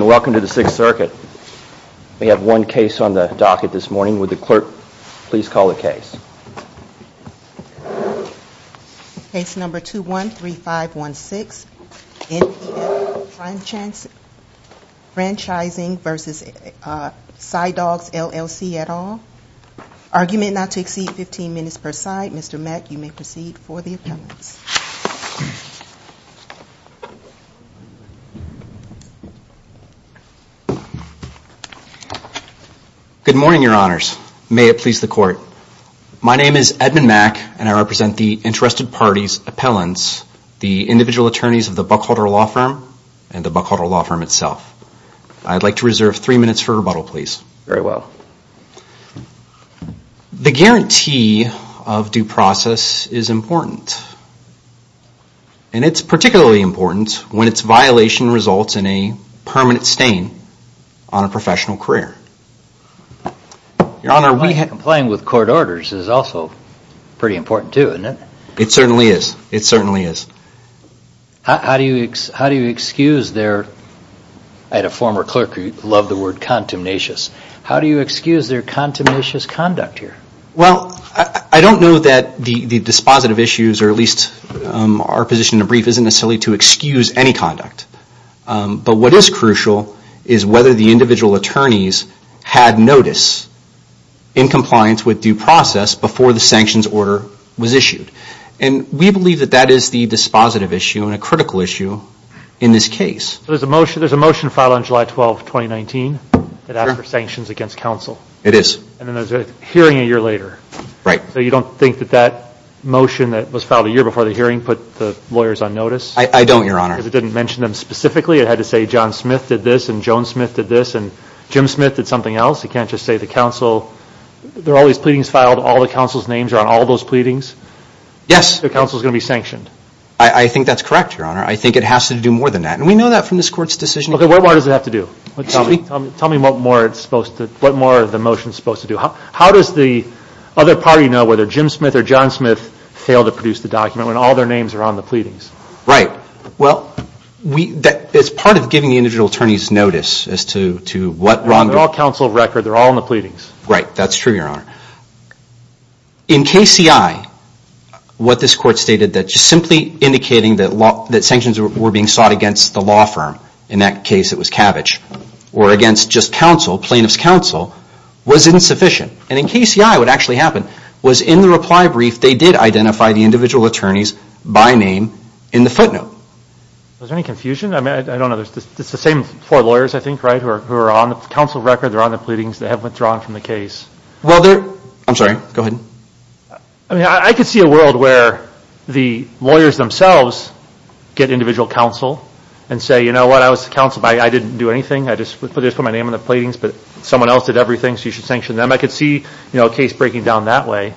Welcome to the Sixth Circuit. We have one case on the docket this morning. Would the clerk please call the case. Case number 213516, NPL Franchising v. CyDogs LLC et al. Argument not to exceed 15 minutes per side. Mr. Mack, you may proceed for the appellants. Edmund Mack Good morning, your honors. May it please the court. My name is Edmund Mack, and I represent the interested parties appellants, the individual attorneys of the Buckholder Law Firm and the Buckholder Law Firm itself. I'd like to reserve three minutes for rebuttal, please. Very well. The guarantee of due process is important, and it's particularly important when it's violation results in a permanent stain on a professional career. Your honor, we have... Playing with court orders is also pretty important too, isn't it? It certainly is. It is. How do you excuse their contaminatious conduct here? Well, I don't know that the dispositive issues, or at least our position in the brief, isn't necessarily to excuse any conduct. But what is crucial is whether the individual attorneys had notice in compliance with due process before the sanctions order was issued. And we believe that that is the dispositive issue and a critical issue in this case. There's a motion filed on July 12, 2019 that asked for sanctions against counsel. It is. And then there's a hearing a year later. Right. So you don't think that that motion that was filed a year before the hearing put the lawyers on notice? I don't, your honor. Because it didn't mention them specifically. It had to say John Smith did this, and Joan Smith did this, and Jim Smith did something else. You can't just say the counsel... There are all these pleadings filed. All the counsel's names are on all those pleadings. Yes. The counsel's going to be sanctioned. I think that's correct, your honor. I think it has to do more than that. And we know that from this court's decision. Okay. What more does it have to do? Tell me what more the motion is supposed to do. How does the other party know whether Jim Smith or John Smith failed to produce the document when all their names are on the pleadings? Right. Well, it's part of giving the individual attorneys notice as to what Ron... They're all counsel of record. They're all in the pleadings. Right. That's true, your honor. In KCI, what this court confirmed, in that case it was Cabbage, or against just counsel, plaintiff's counsel, was insufficient. And in KCI, what actually happened was in the reply brief they did identify the individual attorneys by name in the footnote. Is there any confusion? I don't know. It's the same four lawyers, I think, right, who are on the counsel record. They're on the pleadings. They haven't withdrawn from the case. I'm sorry. Go ahead. I could see a world where the lawyers themselves get individual counsel and say, you know what, I was counsel, but I didn't do anything. I just put my name on the pleadings, but someone else did everything so you should sanction them. I could see a case breaking down that way.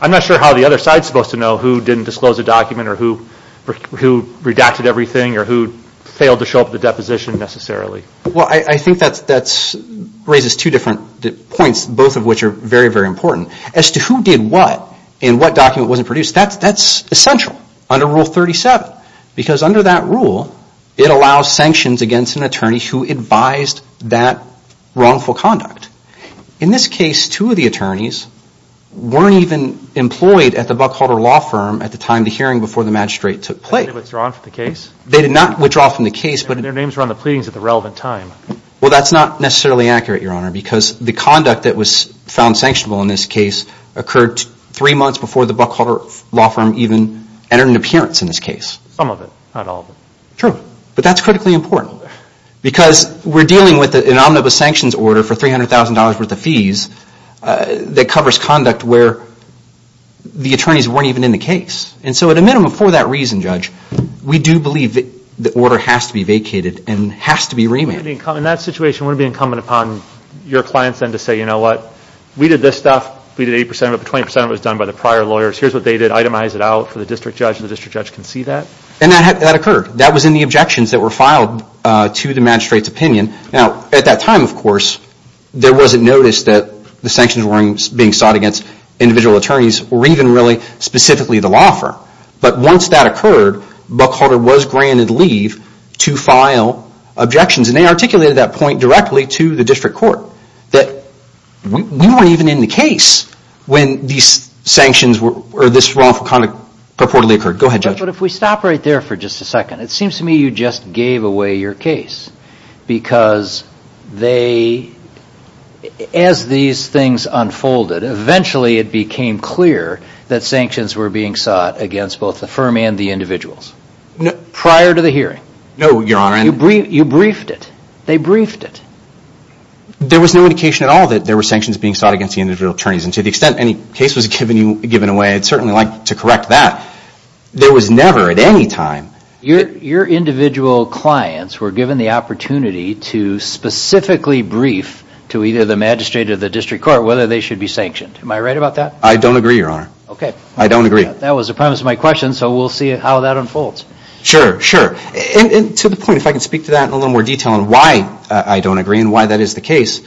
I'm not sure how the other side is supposed to know who didn't disclose the document or who redacted everything or who failed to show up at the deposition necessarily. Well, I think that raises two different points, both of which are very, very important. As to who did what and what document wasn't produced, that's essential under Rule 37 because under that rule it allows sanctions against an attorney who advised that wrongful conduct. In this case, two of the attorneys weren't even employed at the Buckholder Law Firm at the time of the hearing before the magistrate took place. They withdrew from the case? They did not withdraw from the case. Their names were on the pleadings at the relevant time. Well, that's not necessarily accurate, Your Honor, because the conduct that was found sanctionable in this case occurred three months before the Buckholder Law Firm even entered an appearance in this case. Some of it, not all of it. True, but that's critically important because we're dealing with an omnibus sanctions order for $300,000 worth of fees that covers conduct where the attorneys weren't even in the case. At a minimum, for that reason, Judge, we do believe that the order has to be vacated and has to be remanded. In that situation, wouldn't it be incumbent upon your clients then to say, you know what, we did this stuff, we did 80% of it, but 20% of it was done by the prior lawyers, here's what they did, itemize it out for the district judge and the district judge can see that? And that occurred. That was in the objections that were filed to the magistrate's opinion. Now, at that time, of course, there wasn't notice that the sanctions were being sought against individual attorneys or even really specifically the law firm. But once that occurred, Buckholder was granted leave to file objections. And they articulated that point directly to the district court that we weren't even in the case when these sanctions or this wrongful conduct purportedly occurred. Go ahead, Judge. But if we stop right there for just a second, it seems to me you just gave away your case because they, as these things unfolded, eventually it became clear that sanctions were being sought against both the firm and the individuals. Prior to the hearing. No, Your Honor. You briefed it. They briefed it. There was no indication at all that there were sanctions being sought against the individual attorneys and to the extent any case was given away, I'd certainly like to correct that. There was never at any time. Your individual clients were given the opportunity to specifically brief to either the magistrate or the district court whether they should be sanctioned. Am I right about that? I don't agree, Your Honor. Okay. I don't agree. That was the premise of my question so we'll see how that unfolds. Sure, sure. And to the point, if I can speak to that in a little more detail on why I don't agree and why that is the case,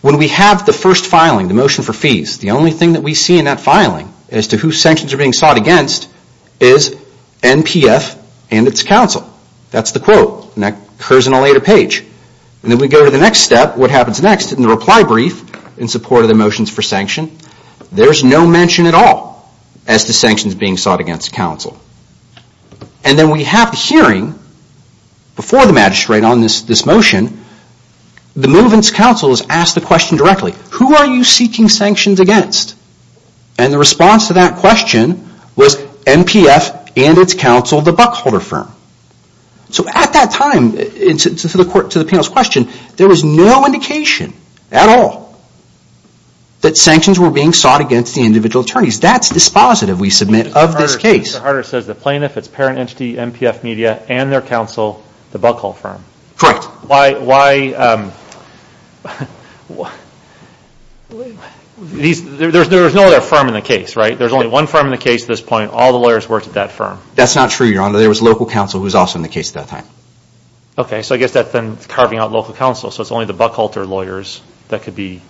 when we have the first filing, the motion for fees, the only thing that we see in that filing as to who sanctions are being sought against is NPF and its counsel. That's the quote. And that occurs in a later page. And then we go to the next step, what happens next in the reply brief in support of the motions for sanction, there's no mention at all as to sanctions being sought against counsel. And then we have the hearing before the magistrate on this motion, the movement's counsel is asked the question directly, who are you seeking sanctions against? And the response to that question was NPF and its counsel, the Buckholder Firm. So at that time, to the panel's question, there was no indication at all that sanctions were being sought against the individual attorneys. That's dispositive, we submit, of this case. Mr. Harder says the plaintiff, its parent entity, NPF Media, and their counsel, the Buckholder Firm. Correct. Why, there's no other firm in the case, right? There's only one firm in the case at this point, all the lawyers worked at that firm. That's not true, Your Honor, there was local counsel who was also in the case at that time. Okay, so I guess that's then carving out local counsel, so it's only the Buckholder lawyers that could be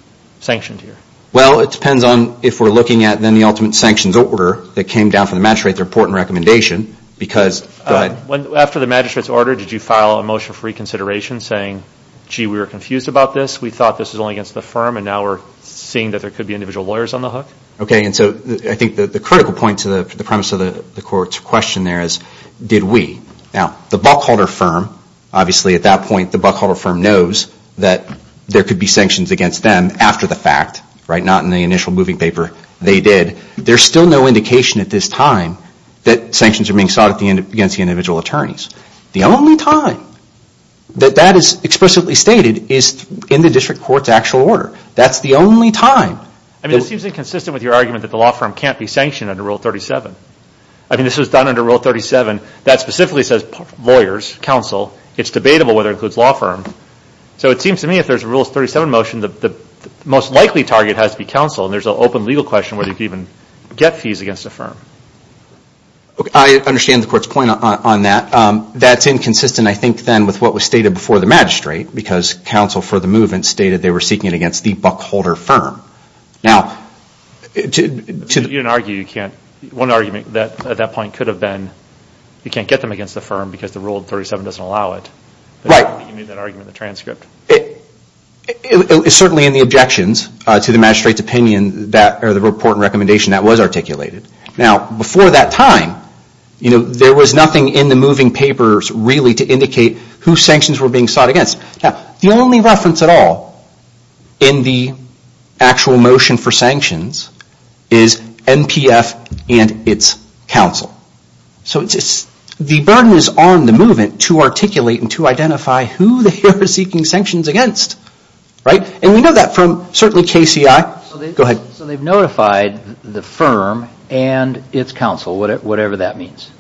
sanctioned here. Well, it depends on if we're looking at then the ultimate sanctions order that came down from the magistrate, the report and recommendation, because, go ahead. After the magistrate's order, did you file a motion for reconsideration saying, gee, we were confused about this, we thought this was only against the firm, and now we're seeing that there could be individual lawyers on the hook? Okay, and so I think the critical point to the premise of the court's question there is, did we? Now, the Buckholder Firm, obviously at that point, the Buckholder Firm knows that there could be sanctions against them after the fact, right? Not in the initial moving paper, they did. There's still no indication at this time that sanctions are being sought against the individual attorneys. The only time that that is explicitly stated is in the district court's actual order. That's the only time. I mean, it seems inconsistent with your argument that the law firm can't be sanctioned under Rule 37. I mean, this was done under Rule 37 that specifically says lawyers, counsel, it's debatable whether it includes law firms. So it seems to me that if there's a Rule 37 motion, the most likely target has to be counsel, and there's an open legal question whether you can even get fees against the firm. I understand the court's point on that. That's inconsistent, I think, then with what was stated before the magistrate, because counsel for the movement stated they were seeking it against the Buckholder Firm. Now, you can argue, you can't, one argument at that point could have been you can't get them against the firm because the Rule 37 doesn't allow it. Right. You need that argument in the transcript. It's certainly in the objections to the magistrate's opinion that, or the report and recommendation that was articulated. Now, before that time, you know, there was nothing in the moving papers really to indicate who sanctions were being sought against. Now, the only reference at all in the actual motion for sanctions is NPF and its counsel. So the burden is on the movement to articulate and to identify who they were seeking sanctions against. Right. And we know that from certainly KCI. Go ahead. So they've notified the firm and its counsel, whatever that means.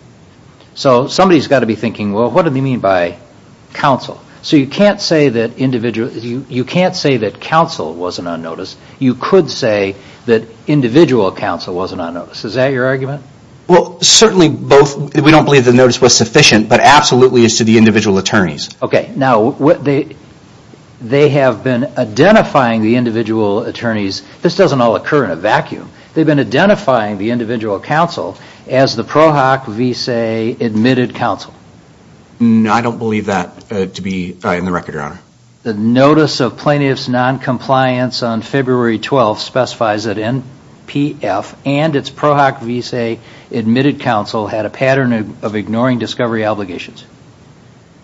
So somebody's got to be thinking, well, what do they mean by counsel? So you can't say that individual, you can't say that counsel wasn't on notice. You could say that individual counsel wasn't on notice. Is that your argument? Well, certainly both. We don't believe the notice was sufficient, but absolutely as to the individual attorneys. Okay. Now, what they, they have been identifying the individual attorneys. This doesn't all occur in a vacuum. They've been identifying the individual counsel as the PROHOC v. say admitted counsel. I don't believe that to be in the record, Your Honor. The notice of plaintiff's noncompliance on February 12 specifies that NPF and its PROHOC v. say admitted counsel had a pattern of ignoring discovery obligations.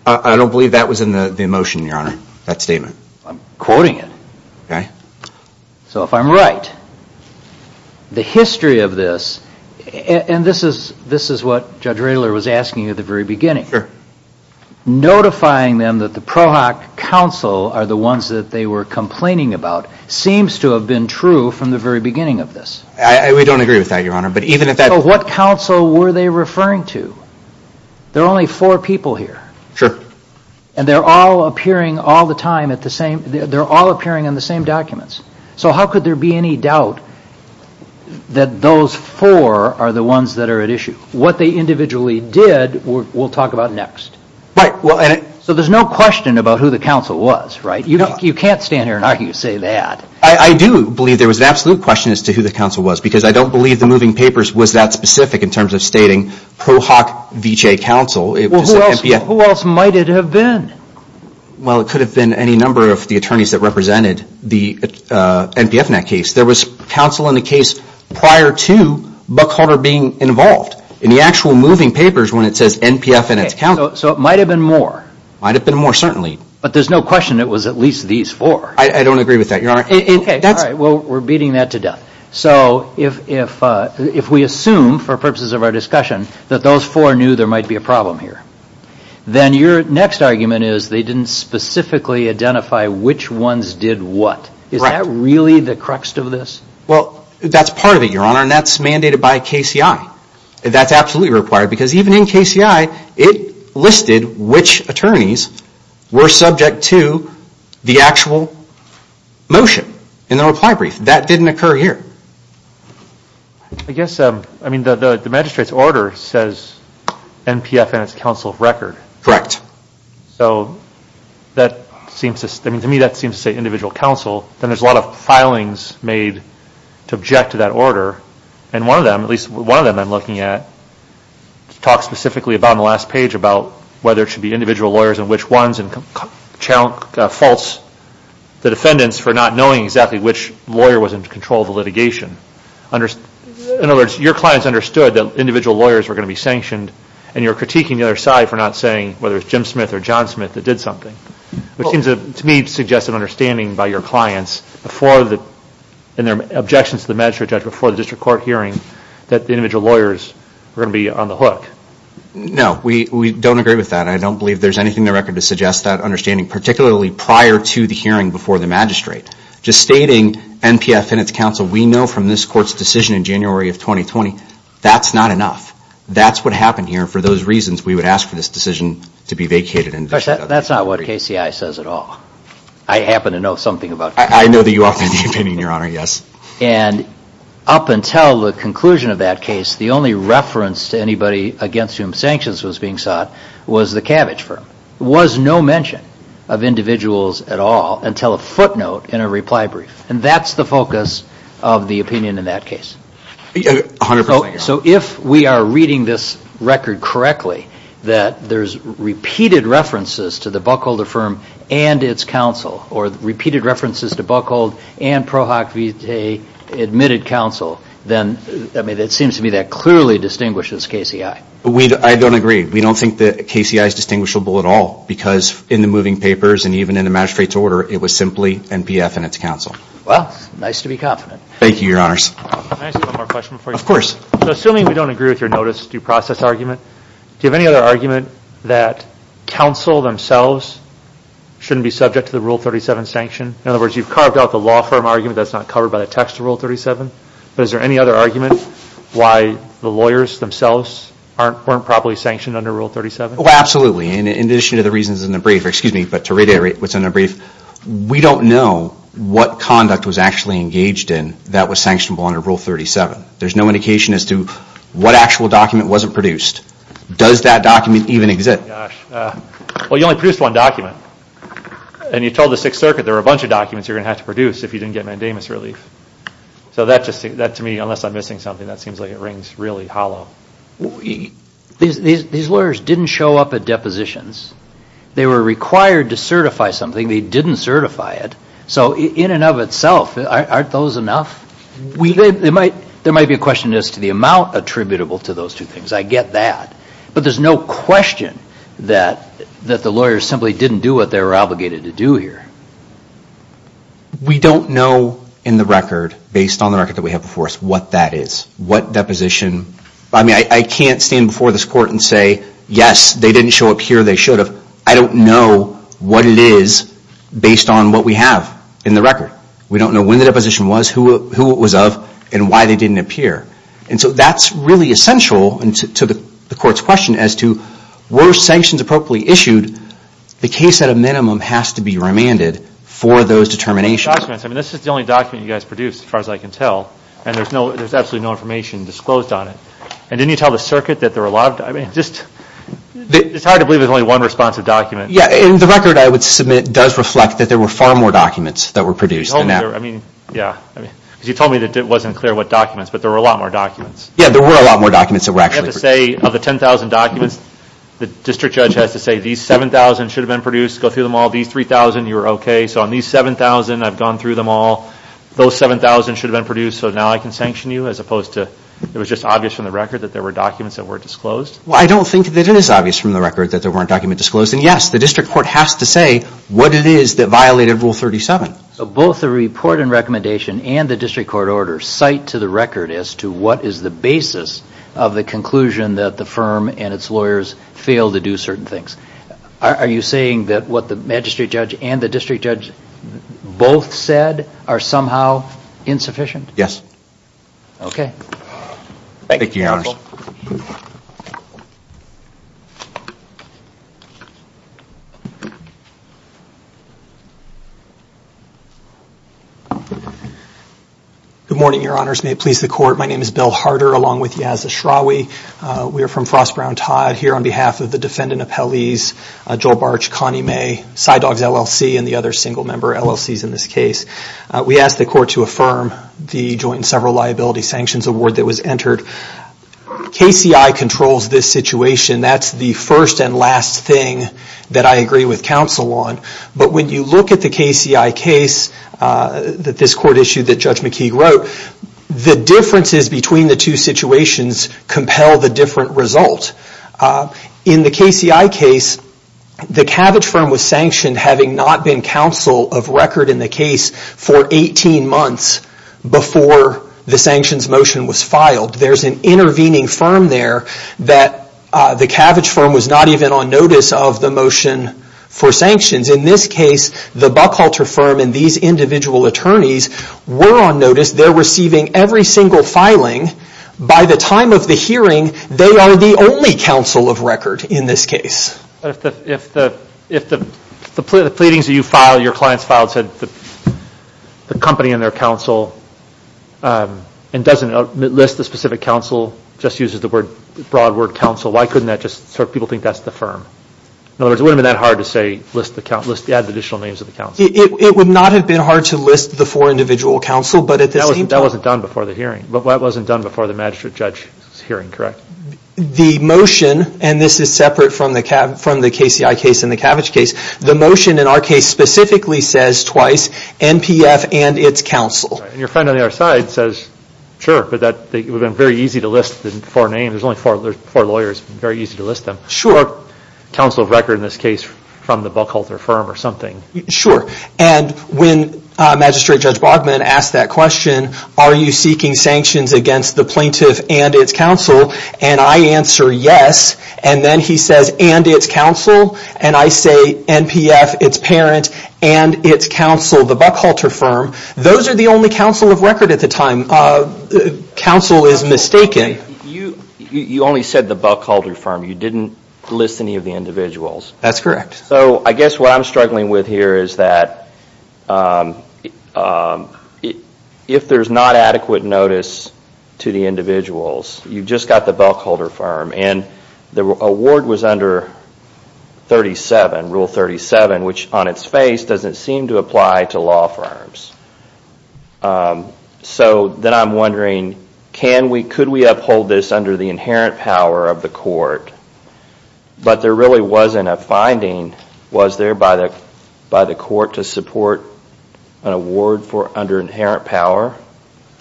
I don't believe that was in the motion, Your Honor, that statement. I'm quoting it. Okay. So if I'm right, the history of this, and this is, this is what Judge Radler was asking at the very beginning. Sure. Notifying them that the PROHOC counsel are the ones that they were complaining about seems to have been true from the very beginning of this. I, we don't agree with that, Your Honor, but even if that... So what counsel were they referring to? There are only four people here. Sure. And they're all appearing all the time at the same, they're all appearing in the same documents. So how could there be any doubt that those four are the ones that are at issue? What they individually did, we'll talk about next. Right. Well, and... So there's no question about who the counsel was, right? You can't stand here and argue and say that. I do believe there was an absolute question as to who the counsel was, because I don't believe the moving papers was that specific in terms of stating PROHOC v. say counsel. It was the NPF... Well, who else might it have been? Well, it could have been any number of the attorneys that represented the NPF in that case. There was counsel in the case prior to Buckholder being involved. In the actual moving papers when it says NPF and it's counsel... So it might have been more. Might have been more, certainly. But there's no question it was at least these four. I don't agree with that, Your Honor. Okay, all right, well, we're beating that to death. So if we assume, for purposes of our discussion, that those four knew there might be a problem here, then your next argument is they didn't specifically identify which ones did what. Right. Is that really the crux of this? Well, that's part of it, Your Honor, and that's mandated by KCI. That's absolutely required, because even in KCI it listed which attorneys were subject to the actual motion in the reply brief. That didn't occur here. I guess, I mean, the magistrate's order says NPF and it's counsel of record. Correct. So that seems to, I mean, to me that seems to say individual counsel. Then there's a lot of filings made to object to that order, and one of them, at least one of them I'm looking at, talks specifically about on the last page about whether it should be individual lawyers and which ones and faults the defendants for not knowing exactly which lawyer was in control of the litigation. In other words, your clients understood that individual lawyers were going to be sanctioned and you're critiquing the other side for not saying whether it's Jim Smith or John Smith that did something, which seems to me to suggest an understanding by your clients before the, in their objections to the magistrate judge before the district court hearing, that the individual lawyers were going to be on the hook. No, we don't agree with that. I don't believe there's anything in the record to suggest that understanding, particularly prior to the hearing before the magistrate. Just stating NPF and it's counsel, we know from this court's decision in January of 2020, that's not enough. That's what happened here and for those reasons we would ask for this decision to be vacated. That's not what KCI says at all. I happen to know something about KCI. I know that you often have an opinion, Your Honor, yes. And up until the conclusion of that case, the only reference to anybody against whom sanctions was being sought was the cabbage firm. There was no mention of individuals at all until a footnote in a reply brief and that's the focus of the opinion in that case. So if we are reading this record correctly, that there's repeated references to the Buckholder firm and it's counsel, or repeated references to Buckhold and ProHoc Vitae admitted counsel, then it seems to me that clearly distinguishes KCI. I don't agree. We don't think that KCI is distinguishable at all because in the moving papers and even in the magistrate's order, it was simply NPF and it's counsel. Well, nice to be confident. Thank you, Your Honors. Can I ask you one more question before you go? Of course. So assuming we don't agree with your notice due process argument, do you have any other argument that counsel themselves shouldn't be subject to the Rule 37 sanction? In other words, you've carved out the law firm argument that's not covered by the text of Rule 37, but is there any other argument why the lawyers themselves weren't properly sanctioned under Rule 37? Well, absolutely. In addition to the reasons in the brief, excuse me, but to reiterate what's in the brief, we don't know what conduct was actually engaged in that was sanctionable under Rule 37. There's no indication as to what actual document wasn't produced. Does that document even exist? Well, you only produced one document. And you told the Sixth Circuit there were a bunch of documents you're going to have to produce if you didn't get mandamus relief. So that to me, unless I'm missing something, that seems like it rings really hollow. These lawyers didn't show up at depositions. They were required to certify something. They didn't certify it. So in and of itself, aren't those enough? There might be a question as to the amount attributable to those two things. I get that. But there's no question that the lawyers simply didn't do what they were obligated to do here. We don't know in the record, based on the record that we have before us, what that is, what deposition. I mean, I can't stand before this Court and say, yes, they didn't show up here. They should have. I don't know what it is based on what we have in the record. We don't know when the deposition was, who it was of, and why they didn't appear. And to the Court's question as to were sanctions appropriately issued, the case at a minimum has to be remanded for those determinations. But the documents, I mean, this is the only document you guys produced, as far as I can tell. And there's absolutely no information disclosed on it. And didn't you tell the circuit that there were a lot of, I mean, just, it's hard to believe there's only one responsive document. Yeah, in the record, I would submit, does reflect that there were far more documents that were produced than that. I mean, yeah. Because you told me that it wasn't clear what documents, but there were a lot more documents. Yeah, there were a lot more documents that were actually produced. So you have to say, of the 10,000 documents, the district judge has to say, these 7,000 should have been produced, go through them all. These 3,000, you were okay. So on these 7,000, I've gone through them all. Those 7,000 should have been produced, so now I can sanction you? As opposed to, it was just obvious from the record that there were documents that weren't disclosed? Well, I don't think that it is obvious from the record that there weren't documents disclosed. And yes, the district court has to say what it is that violated Rule 37. So both the report and recommendation and the district court order cite to the record as to what is the basis of the conclusion that the firm and its lawyers failed to do certain things. Are you saying that what the magistrate judge and the district judge both said are somehow insufficient? Okay. Thank you, Your Honors. Good morning, Your Honors. May it please the court. My name is Bill Harder along with Yaz Ashrawi. We are from Frost, Brown, Todd here on behalf of the defendant appellees, Joel Barch, Connie May, Side Dogs, LLC, and the other single member LLCs in this case. We ask the court to affirm the joint and several liability sanctions award that was entered KCI controls this situation. That's the first and last thing that I agree with counsel on. But when you look at the KCI case that this court issued that Judge McKee wrote, the differences between the two situations compel the different result. In the KCI case, the Cabbage firm was sanctioned having not been counsel of record in the case for 18 months before the firm there that the Cabbage firm was not even on notice of the motion for sanctions. In this case, the Buckhalter firm and these individual attorneys were on notice. They are receiving every single filing. By the time of the hearing, they are the only counsel of record in this case. If the pleadings that you filed, your clients filed, said the company and their counsel and doesn't list the specific counsel, just uses the broad word counsel, why couldn't that just so people think that's the firm? In other words, it wouldn't have been that hard to say list the additional names of the counsel. It would not have been hard to list the four individual counsel, but at the same time... That wasn't done before the hearing. That wasn't done before the magistrate judge's hearing, correct? The motion, and this is separate from the KCI case and the Cabbage case, the motion in our case specifically says twice, NPF and its counsel. Your friend on the other side says, sure, but it would have been very easy to list the four names. There's only four lawyers. It would have been very easy to list them. Sure. Counsel of record in this case from the Buckhalter firm or something. Sure, and when Magistrate Judge Bogman asked that question, are you seeking sanctions against the plaintiff and its counsel, and I answer yes, and then he says, and its counsel, and I say NPF, its parent, and its counsel, the Buckhalter firm, those are the only counsel of record at the time. Counsel is mistaken. You only said the Buckhalter firm. You didn't list any of the individuals. That's correct. I guess what I'm struggling with here is that if there's not adequate notice to the individuals, you just got the Buckhalter firm, and the award was under 37, Rule 37, which on its face doesn't seem to apply to law firms. So then I'm wondering, can we, could we uphold this under the inherent power of the court, but there really wasn't a finding, was there by the court to support an award for under inherent power?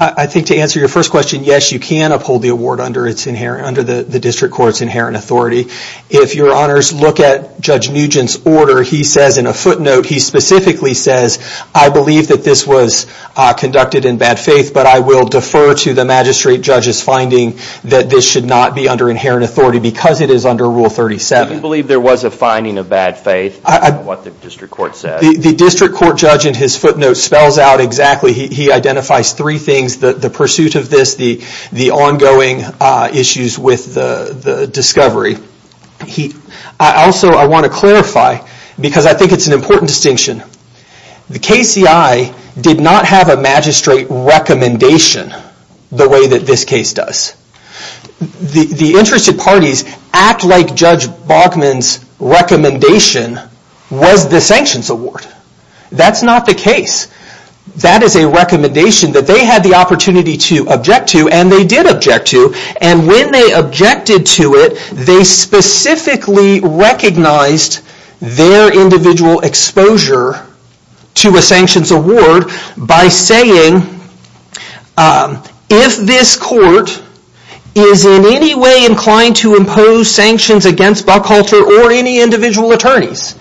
I think to answer your first question, yes, you can uphold the award under the district court's inherent authority. If your honors look at Judge Nugent's order, he says in a footnote, he specifically says, I believe that this was conducted in bad faith, but I will defer to the magistrate judge's finding that this should not be under inherent authority because it is under Rule 37. Do you believe there was a finding of bad faith in what the district court said? The district court judge in his footnote spells out exactly, he identifies three things, the pursuit of this, the ongoing issues with the discovery. Also I want to clarify, because I think it's an important distinction, the KCI did not have a magistrate recommendation the way that this case does. The interested parties act like Judge Baughman's recommendation was the sanctions award. That's not the case. That is a recommendation that they had the opportunity to object to, and they did object to, and when they objected to it, they specifically recognized their individual exposure to a sanctions award by saying, if this court is in any way inclined to impose sanctions on Buckhalter or any individual attorneys,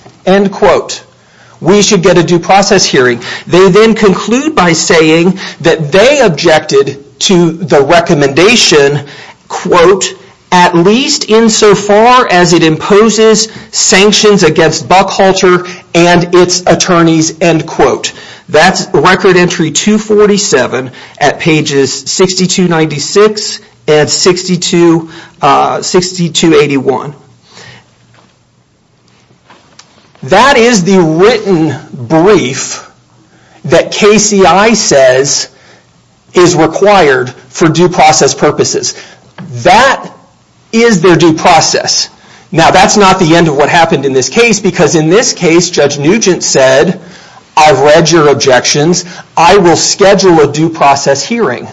we should get a due process hearing. They then conclude by saying that they objected to the recommendation, at least insofar as it imposes sanctions against Buckhalter and its attorneys. That's Record Entry 247 at 6281. That is the written brief that KCI says is required for due process purposes. That is their due process. Now that's not the end of what happened in this case, because in this case Judge Nugent said, I've read your objections, I will schedule a due process hearing.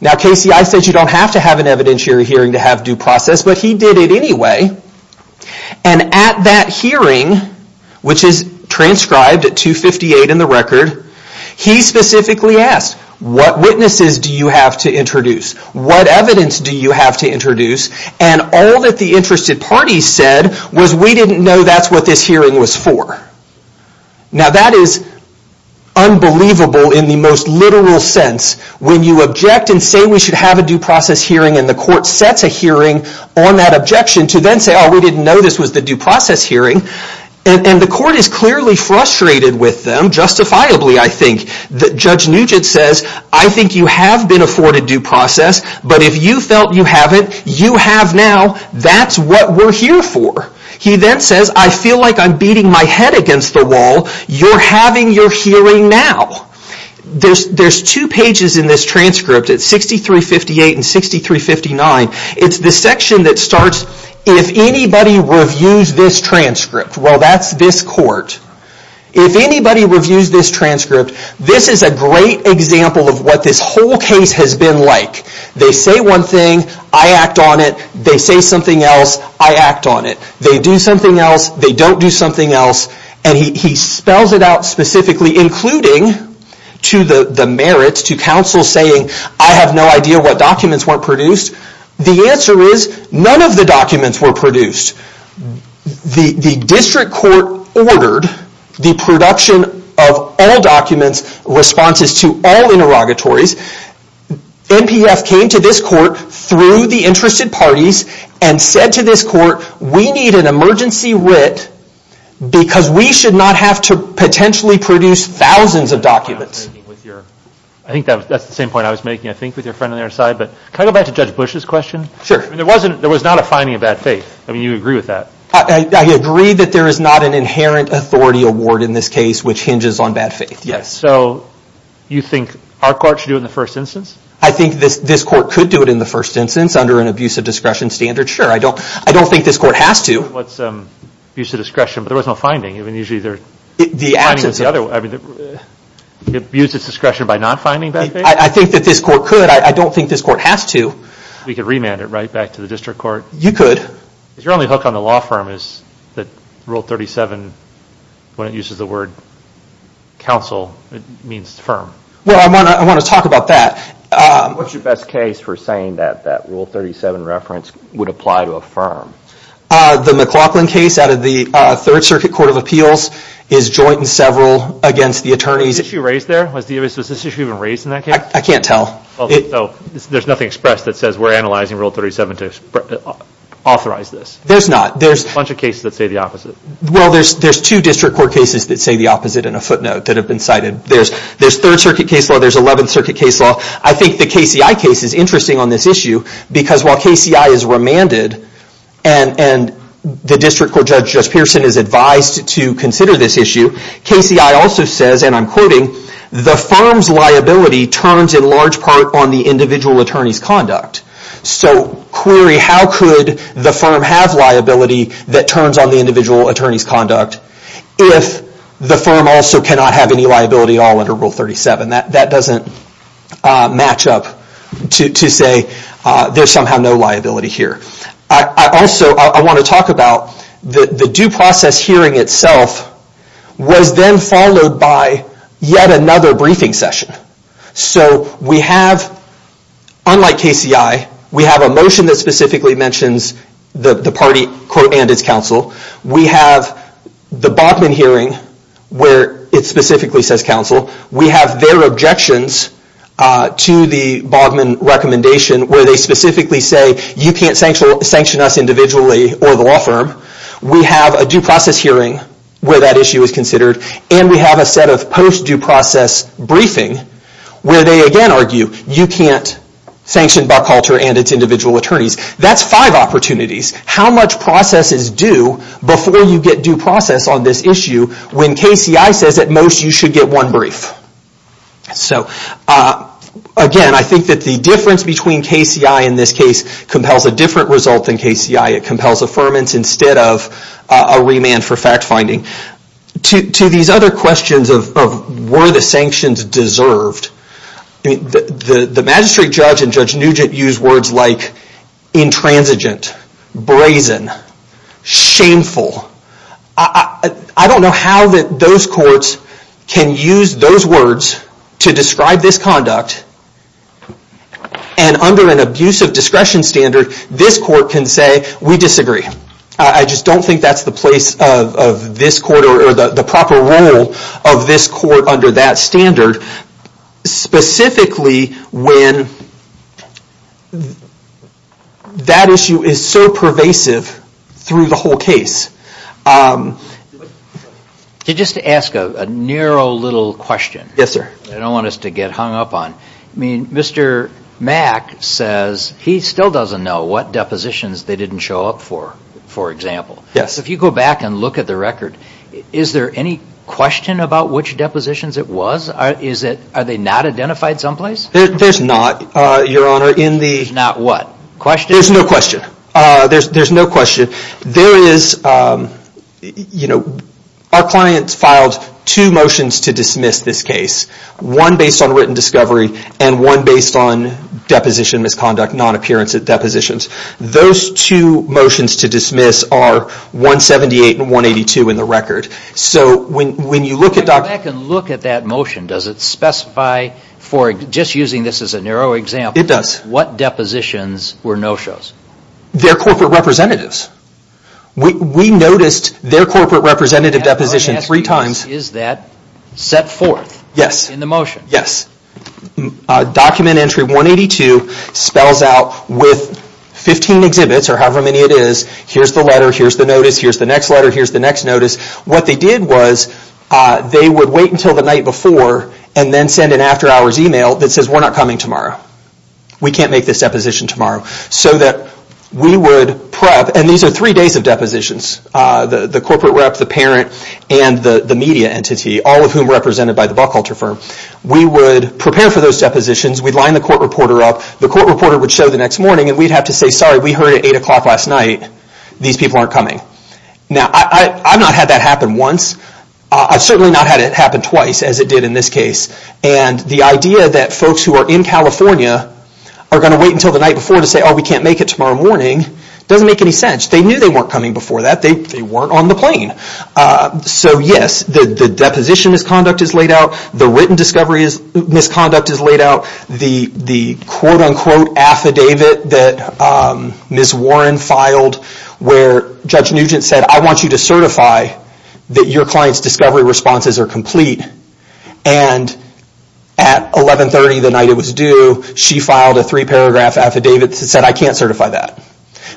Now KCI says you don't have to have an evidentiary hearing to have due process, but he did it anyway. And at that hearing, which is transcribed at 258 in the record, he specifically asked, what witnesses do you have to introduce? What evidence do you have to introduce? And all that the interested parties said was, we didn't know that's what this hearing was for. Now that is unbelievable in the most literal sense. When you object and say we should have a due process hearing and the court sets a hearing on that objection to then say, oh we didn't know this was the due process hearing. And the court is clearly frustrated with them, justifiably I think. Judge Nugent says, I think you have been afforded due process, but if you felt you haven't, you have now. That's what we're here for. He then says, I feel like I'm beating my head against the wall, you're having your hearing now. There's two pages in this transcript, it's 6358 and 6359. It's the section that starts, if anybody reviews this transcript, well that's this court. If anybody reviews this transcript, this is a great example of what this whole case has been like. They say one thing, I act on it. They say something else, I act on it. They do something else, they don't do something else. And he spells it out specifically, including to the merits, to counsel saying, I have no idea what documents weren't produced. The answer is, none of the documents were produced. The district court ordered the production of all documents, responses to all interrogatories. NPF came to this court through the interested parties and said to this court, we need an emergency writ because we should not have to potentially produce thousands of documents. I think that's the same point I was making I think with your friend on the other side, but can I go back to Judge Bush's question? Sure. There was not a finding of bad faith, I mean you agree with that. I agree that there is not an inherent authority award in this case which hinges on bad faith, yes. So you think our court should do it in the first instance? I think this court could do it in the first instance under an abuse of discretion standard, sure. I don't think this court has to. What's abuse of discretion, but there was no finding. The absence of. Abuse of discretion by not finding bad faith? I think that this court could, I don't think this court has to. We could remand it right back to the district court. You could. Your only hook on the law firm is that Rule 37, when it uses the word counsel, it means firm. Well, I want to talk about that. What's your best case for saying that that Rule 37 reference would apply to a firm? The McLaughlin case out of the Third Circuit Court of Appeals is joint and several against the attorneys. Was this issue raised there? Was this issue even raised in that case? I can't tell. So there's nothing expressed that says we're analyzing Rule 37 to authorize this? There's not. There's a bunch of cases that say the opposite. Well, there's two district court cases that say the opposite in a footnote that have been cited. There's Third Circuit case law, there's Eleventh Circuit case law. I think the KCI case is interesting on this issue because while KCI is remanded and the district court judge, Judge Pearson, is advised to consider this issue, KCI also says, and I'm quoting, the firm's liability turns in the individual attorney's conduct. So query, how could the firm have liability that turns on the individual attorney's conduct if the firm also cannot have any liability at all under Rule 37? That doesn't match up to say there's somehow no liability here. I also want to talk about the due process hearing itself was then followed by yet another briefing session. So we have, unlike KCI, we have a motion that specifically mentions the party, quote, and its counsel. We have the Baughman hearing where it specifically says counsel. We have their objections to the Baughman recommendation where they specifically say you can't sanction us individually or the law firm. We have a due process hearing where that issue is considered and we have a set of post due process briefing where they again argue you can't sanction Buckalter and its individual attorneys. That's five opportunities. How much process is due before you get due process on this issue when KCI says at most you should get one brief? So again, I think that the difference between KCI in this case compels a different result than KCI. It compels affirmance instead of a remand for fact finding. To these other questions of were the sanctions deserved, the magistrate judge and Judge Nugent used words like intransigent, brazen, shameful. I don't know how those courts can use those words to describe this conduct and under an abuse of discretion standard this court can say we disagree. I just don't think that's the place of this court or the proper role of this court under that standard. Specifically when that issue is so pervasive through the whole case. Just to ask a narrow little question, I don't want us to get hung up on. Mr. Mack says he still doesn't know what depositions they didn't show up for, for example. If you go back and look at the record, is there any question about which depositions it was? Are they not identified someplace? There's not, your honor. There's not what? There's no question. Our clients filed two motions to dismiss this case. One based on intrinsic depositions. Those two motions to dismiss are 178 and 182 in the record. When you look at that motion, does it specify, just using this as a narrow example, what depositions were no-shows? They're corporate representatives. We noticed their corporate representative deposition three times. Is that set forth in the motion? Yes. Document entry 182 spells out with 15 exhibits, or however many it is, here's the letter, here's the notice, here's the next letter, here's the next notice. What they did was they would wait until the night before and then send an after hours email that says we're not coming tomorrow. We can't make this deposition tomorrow. We would prep, and these are three days of depositions, the corporate rep, the parent, and the media entity, all of whom are represented by the Buckholter firm. We would prepare for those depositions. We'd line the court reporter up. The court reporter would show the next morning and we'd have to say, sorry, we heard at 8 o'clock last night, these people aren't coming. I've not had that happen once. I've certainly not had it happen twice as it did in this case. The idea that folks who are in California are going to wait until the night before to say, oh, we can't make it tomorrow morning, doesn't make any sense. They knew they weren't coming before that. They weren't on the plane. So yes, the deposition misconduct is laid out. The written discovery misconduct is laid out. The quote-unquote affidavit that Ms. Warren filed where Judge Nugent said, I want you to certify that your client's discovery responses are complete, and at 1130 the night it was due, she filed a three paragraph affidavit that said, I can't certify that.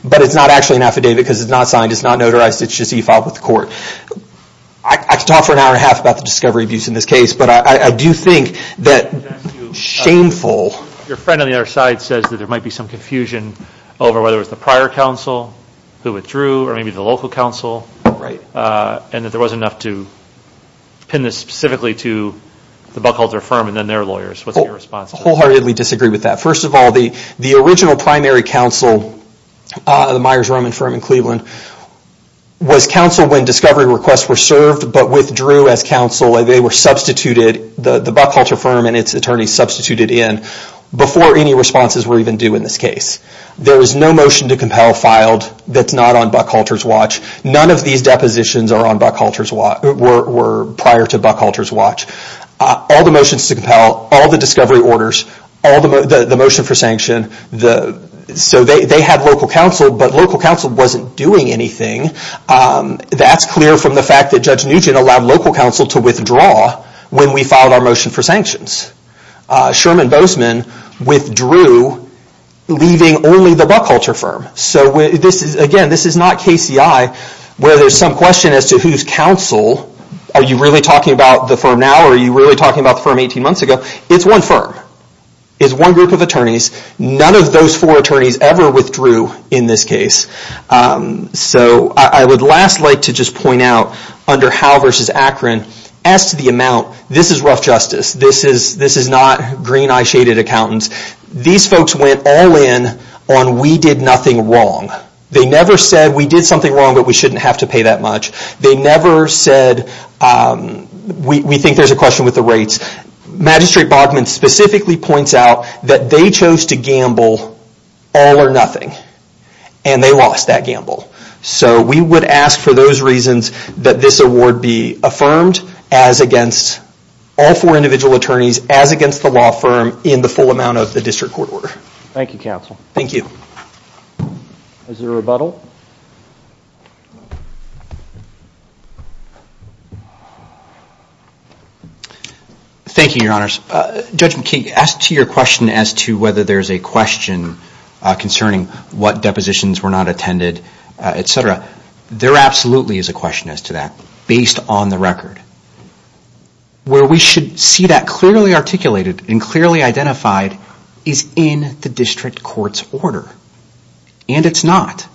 But it's not actually an affidavit because it's not signed. It's not notarized. It's just that you filed with the court. I could talk for an hour and a half about the discovery abuse in this case, but I do think that shameful... Your friend on the other side says that there might be some confusion over whether it was the prior counsel who withdrew or maybe the local counsel, and that there wasn't enough to pin this specifically to the Buckholzer firm and then their lawyers. What's your response to that? I wholeheartedly disagree with that. First of all, the original primary counsel, the Myers Roman firm in Cleveland, was counsel when discovery requests were served but withdrew as counsel. They were substituted, the Buckholzer firm and its attorneys substituted in before any responses were even due in this case. There is no motion to compel filed that's not on Buckholzer's watch. None of these depositions were prior to Buckholzer's watch. All the discovery orders, the motion for sanction, they had local counsel but local counsel wasn't doing anything. That's clear from the fact that Judge Nugent allowed local counsel to withdraw when we filed our motion for sanctions. Sherman Bozeman withdrew leaving only the Buckholzer firm. Again, this is not KCI where there's some question as to who's counsel. Are you really talking about the firm now or are you really talking about the firm 18 years ago? This one firm is one group of attorneys. None of those four attorneys ever withdrew in this case. I would last like to just point out under Howe v. Akron, as to the amount, this is rough justice. This is not green eye shaded accountants. These folks went all in on we did nothing wrong. They never said we did something wrong but we shouldn't have to pay that much. They never said we think there's a question with the rates. Magistrate Bogman specifically points out that they chose to gamble all or nothing and they lost that gamble. We would ask for those reasons that this award be affirmed as against all four individual attorneys as against the law firm in the full amount of the district court order. Thank you counsel. Thank you. Is there a rebuttal? Thank you, your honors. Judge McKee, as to your question as to whether there's a question concerning what depositions were not attended, etc. There absolutely is a question as to that based on the record. Where we should see that clearly articulated and clearly identified is in the district court's order. And it's not.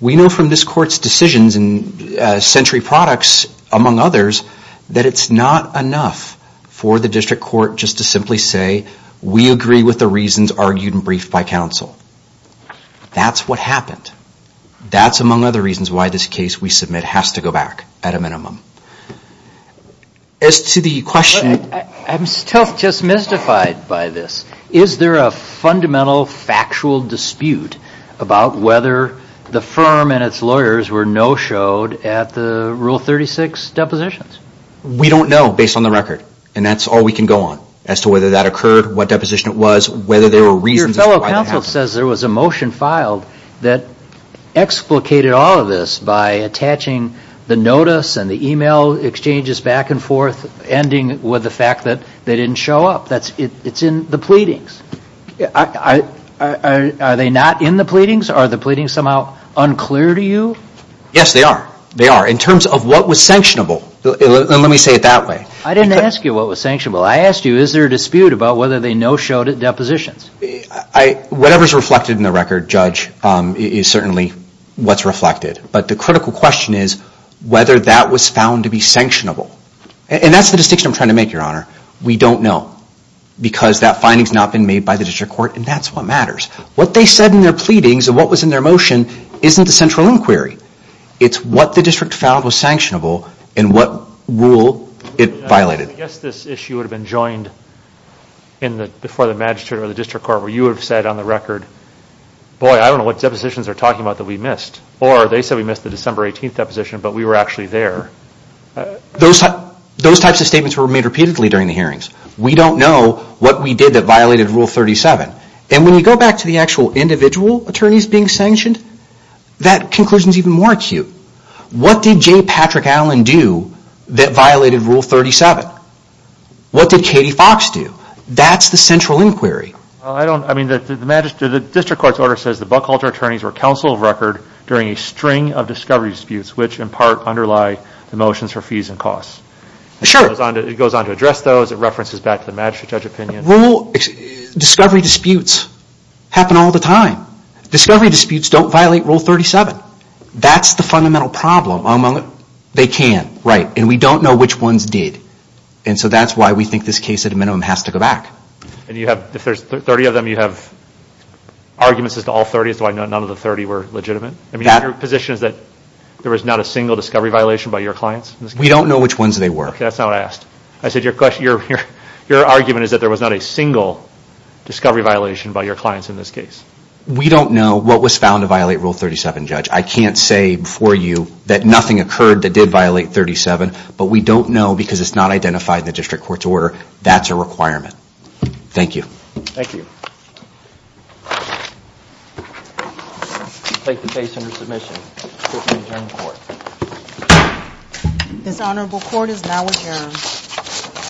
We know from this court's decisions and century products, among others, that it's not enough for the district court just to simply say we agree with the reasons argued and briefed by counsel. That's what happened. That's among other reasons why this case we submit has to go back at a minimum. As to the question... I'm still just mystified by this. Is there a fundamental factual dispute about whether the firm and its lawyers were no-showed at the Rule 36 depositions? We don't know based on the record. And that's all we can go on as to whether that occurred, what deposition it was, whether there were reasons... Your fellow counsel says there was a motion filed that explicated all of this by attaching the notice and the email exchanges back and forth, ending with the fact that they didn't show up. It's in the pleadings. Are they not in the pleadings? Are the pleadings somehow unclear to you? Yes, they are. They are in terms of what was sanctionable. Let me say it that way. I didn't ask you what was sanctionable. I asked you is there a dispute about whether they no-showed at depositions? Whatever is reflected in the record, Judge, is certainly what's reflected. But the critical question is whether that was found to be sanctionable. And that's the distinction I'm trying to make, Your Honor. We don't know because that finding has not been made by the District Court and that's what matters. What they said in their pleadings and what was in their motion isn't the central inquiry. It's what the District found was sanctionable and what rule it violated. I guess this issue would have been joined before the Magistrate or the District Court where you would have said on the record, boy, I don't know what depositions they're talking about that we missed. Or they said we missed the December 18th deposition, but we were actually there. Those types of statements were made repeatedly during the hearings. We don't know what we did that violated Rule 37. And when you go back to the actual individual attorneys being sanctioned, that conclusion is even more acute. What did J. Patrick Allen do that violated Rule 37? What did Katie Fox do? That's the central inquiry. The District Court's order says the Buckhalter attorneys were counsel of record during a string of discovery disputes, which in part underlie the motions for fees and costs. Sure. It goes on to address those. It references back to the Magistrate judge opinion. Rule discovery disputes happen all the time. Discovery disputes don't violate Rule 37. That's the fundamental problem. They can. Right. And we don't know which ones did. And so that's why we think this case at a minimum has to go back. And if there's 30 of them, you have arguments as to all 30 as to why none of the 30 were legitimate? I mean, your position is that there was not a single discovery violation by your clients? We don't know which ones they were. That's not what I asked. I said your argument is that there was not a single discovery violation by your clients in this case. We don't know what was found to violate Rule 37, Judge. I can't say for you that nothing occurred that did violate 37. But we don't know because it's not identified in the Thank you. Thank you. Take the case under submission. This honorable court is now adjourned.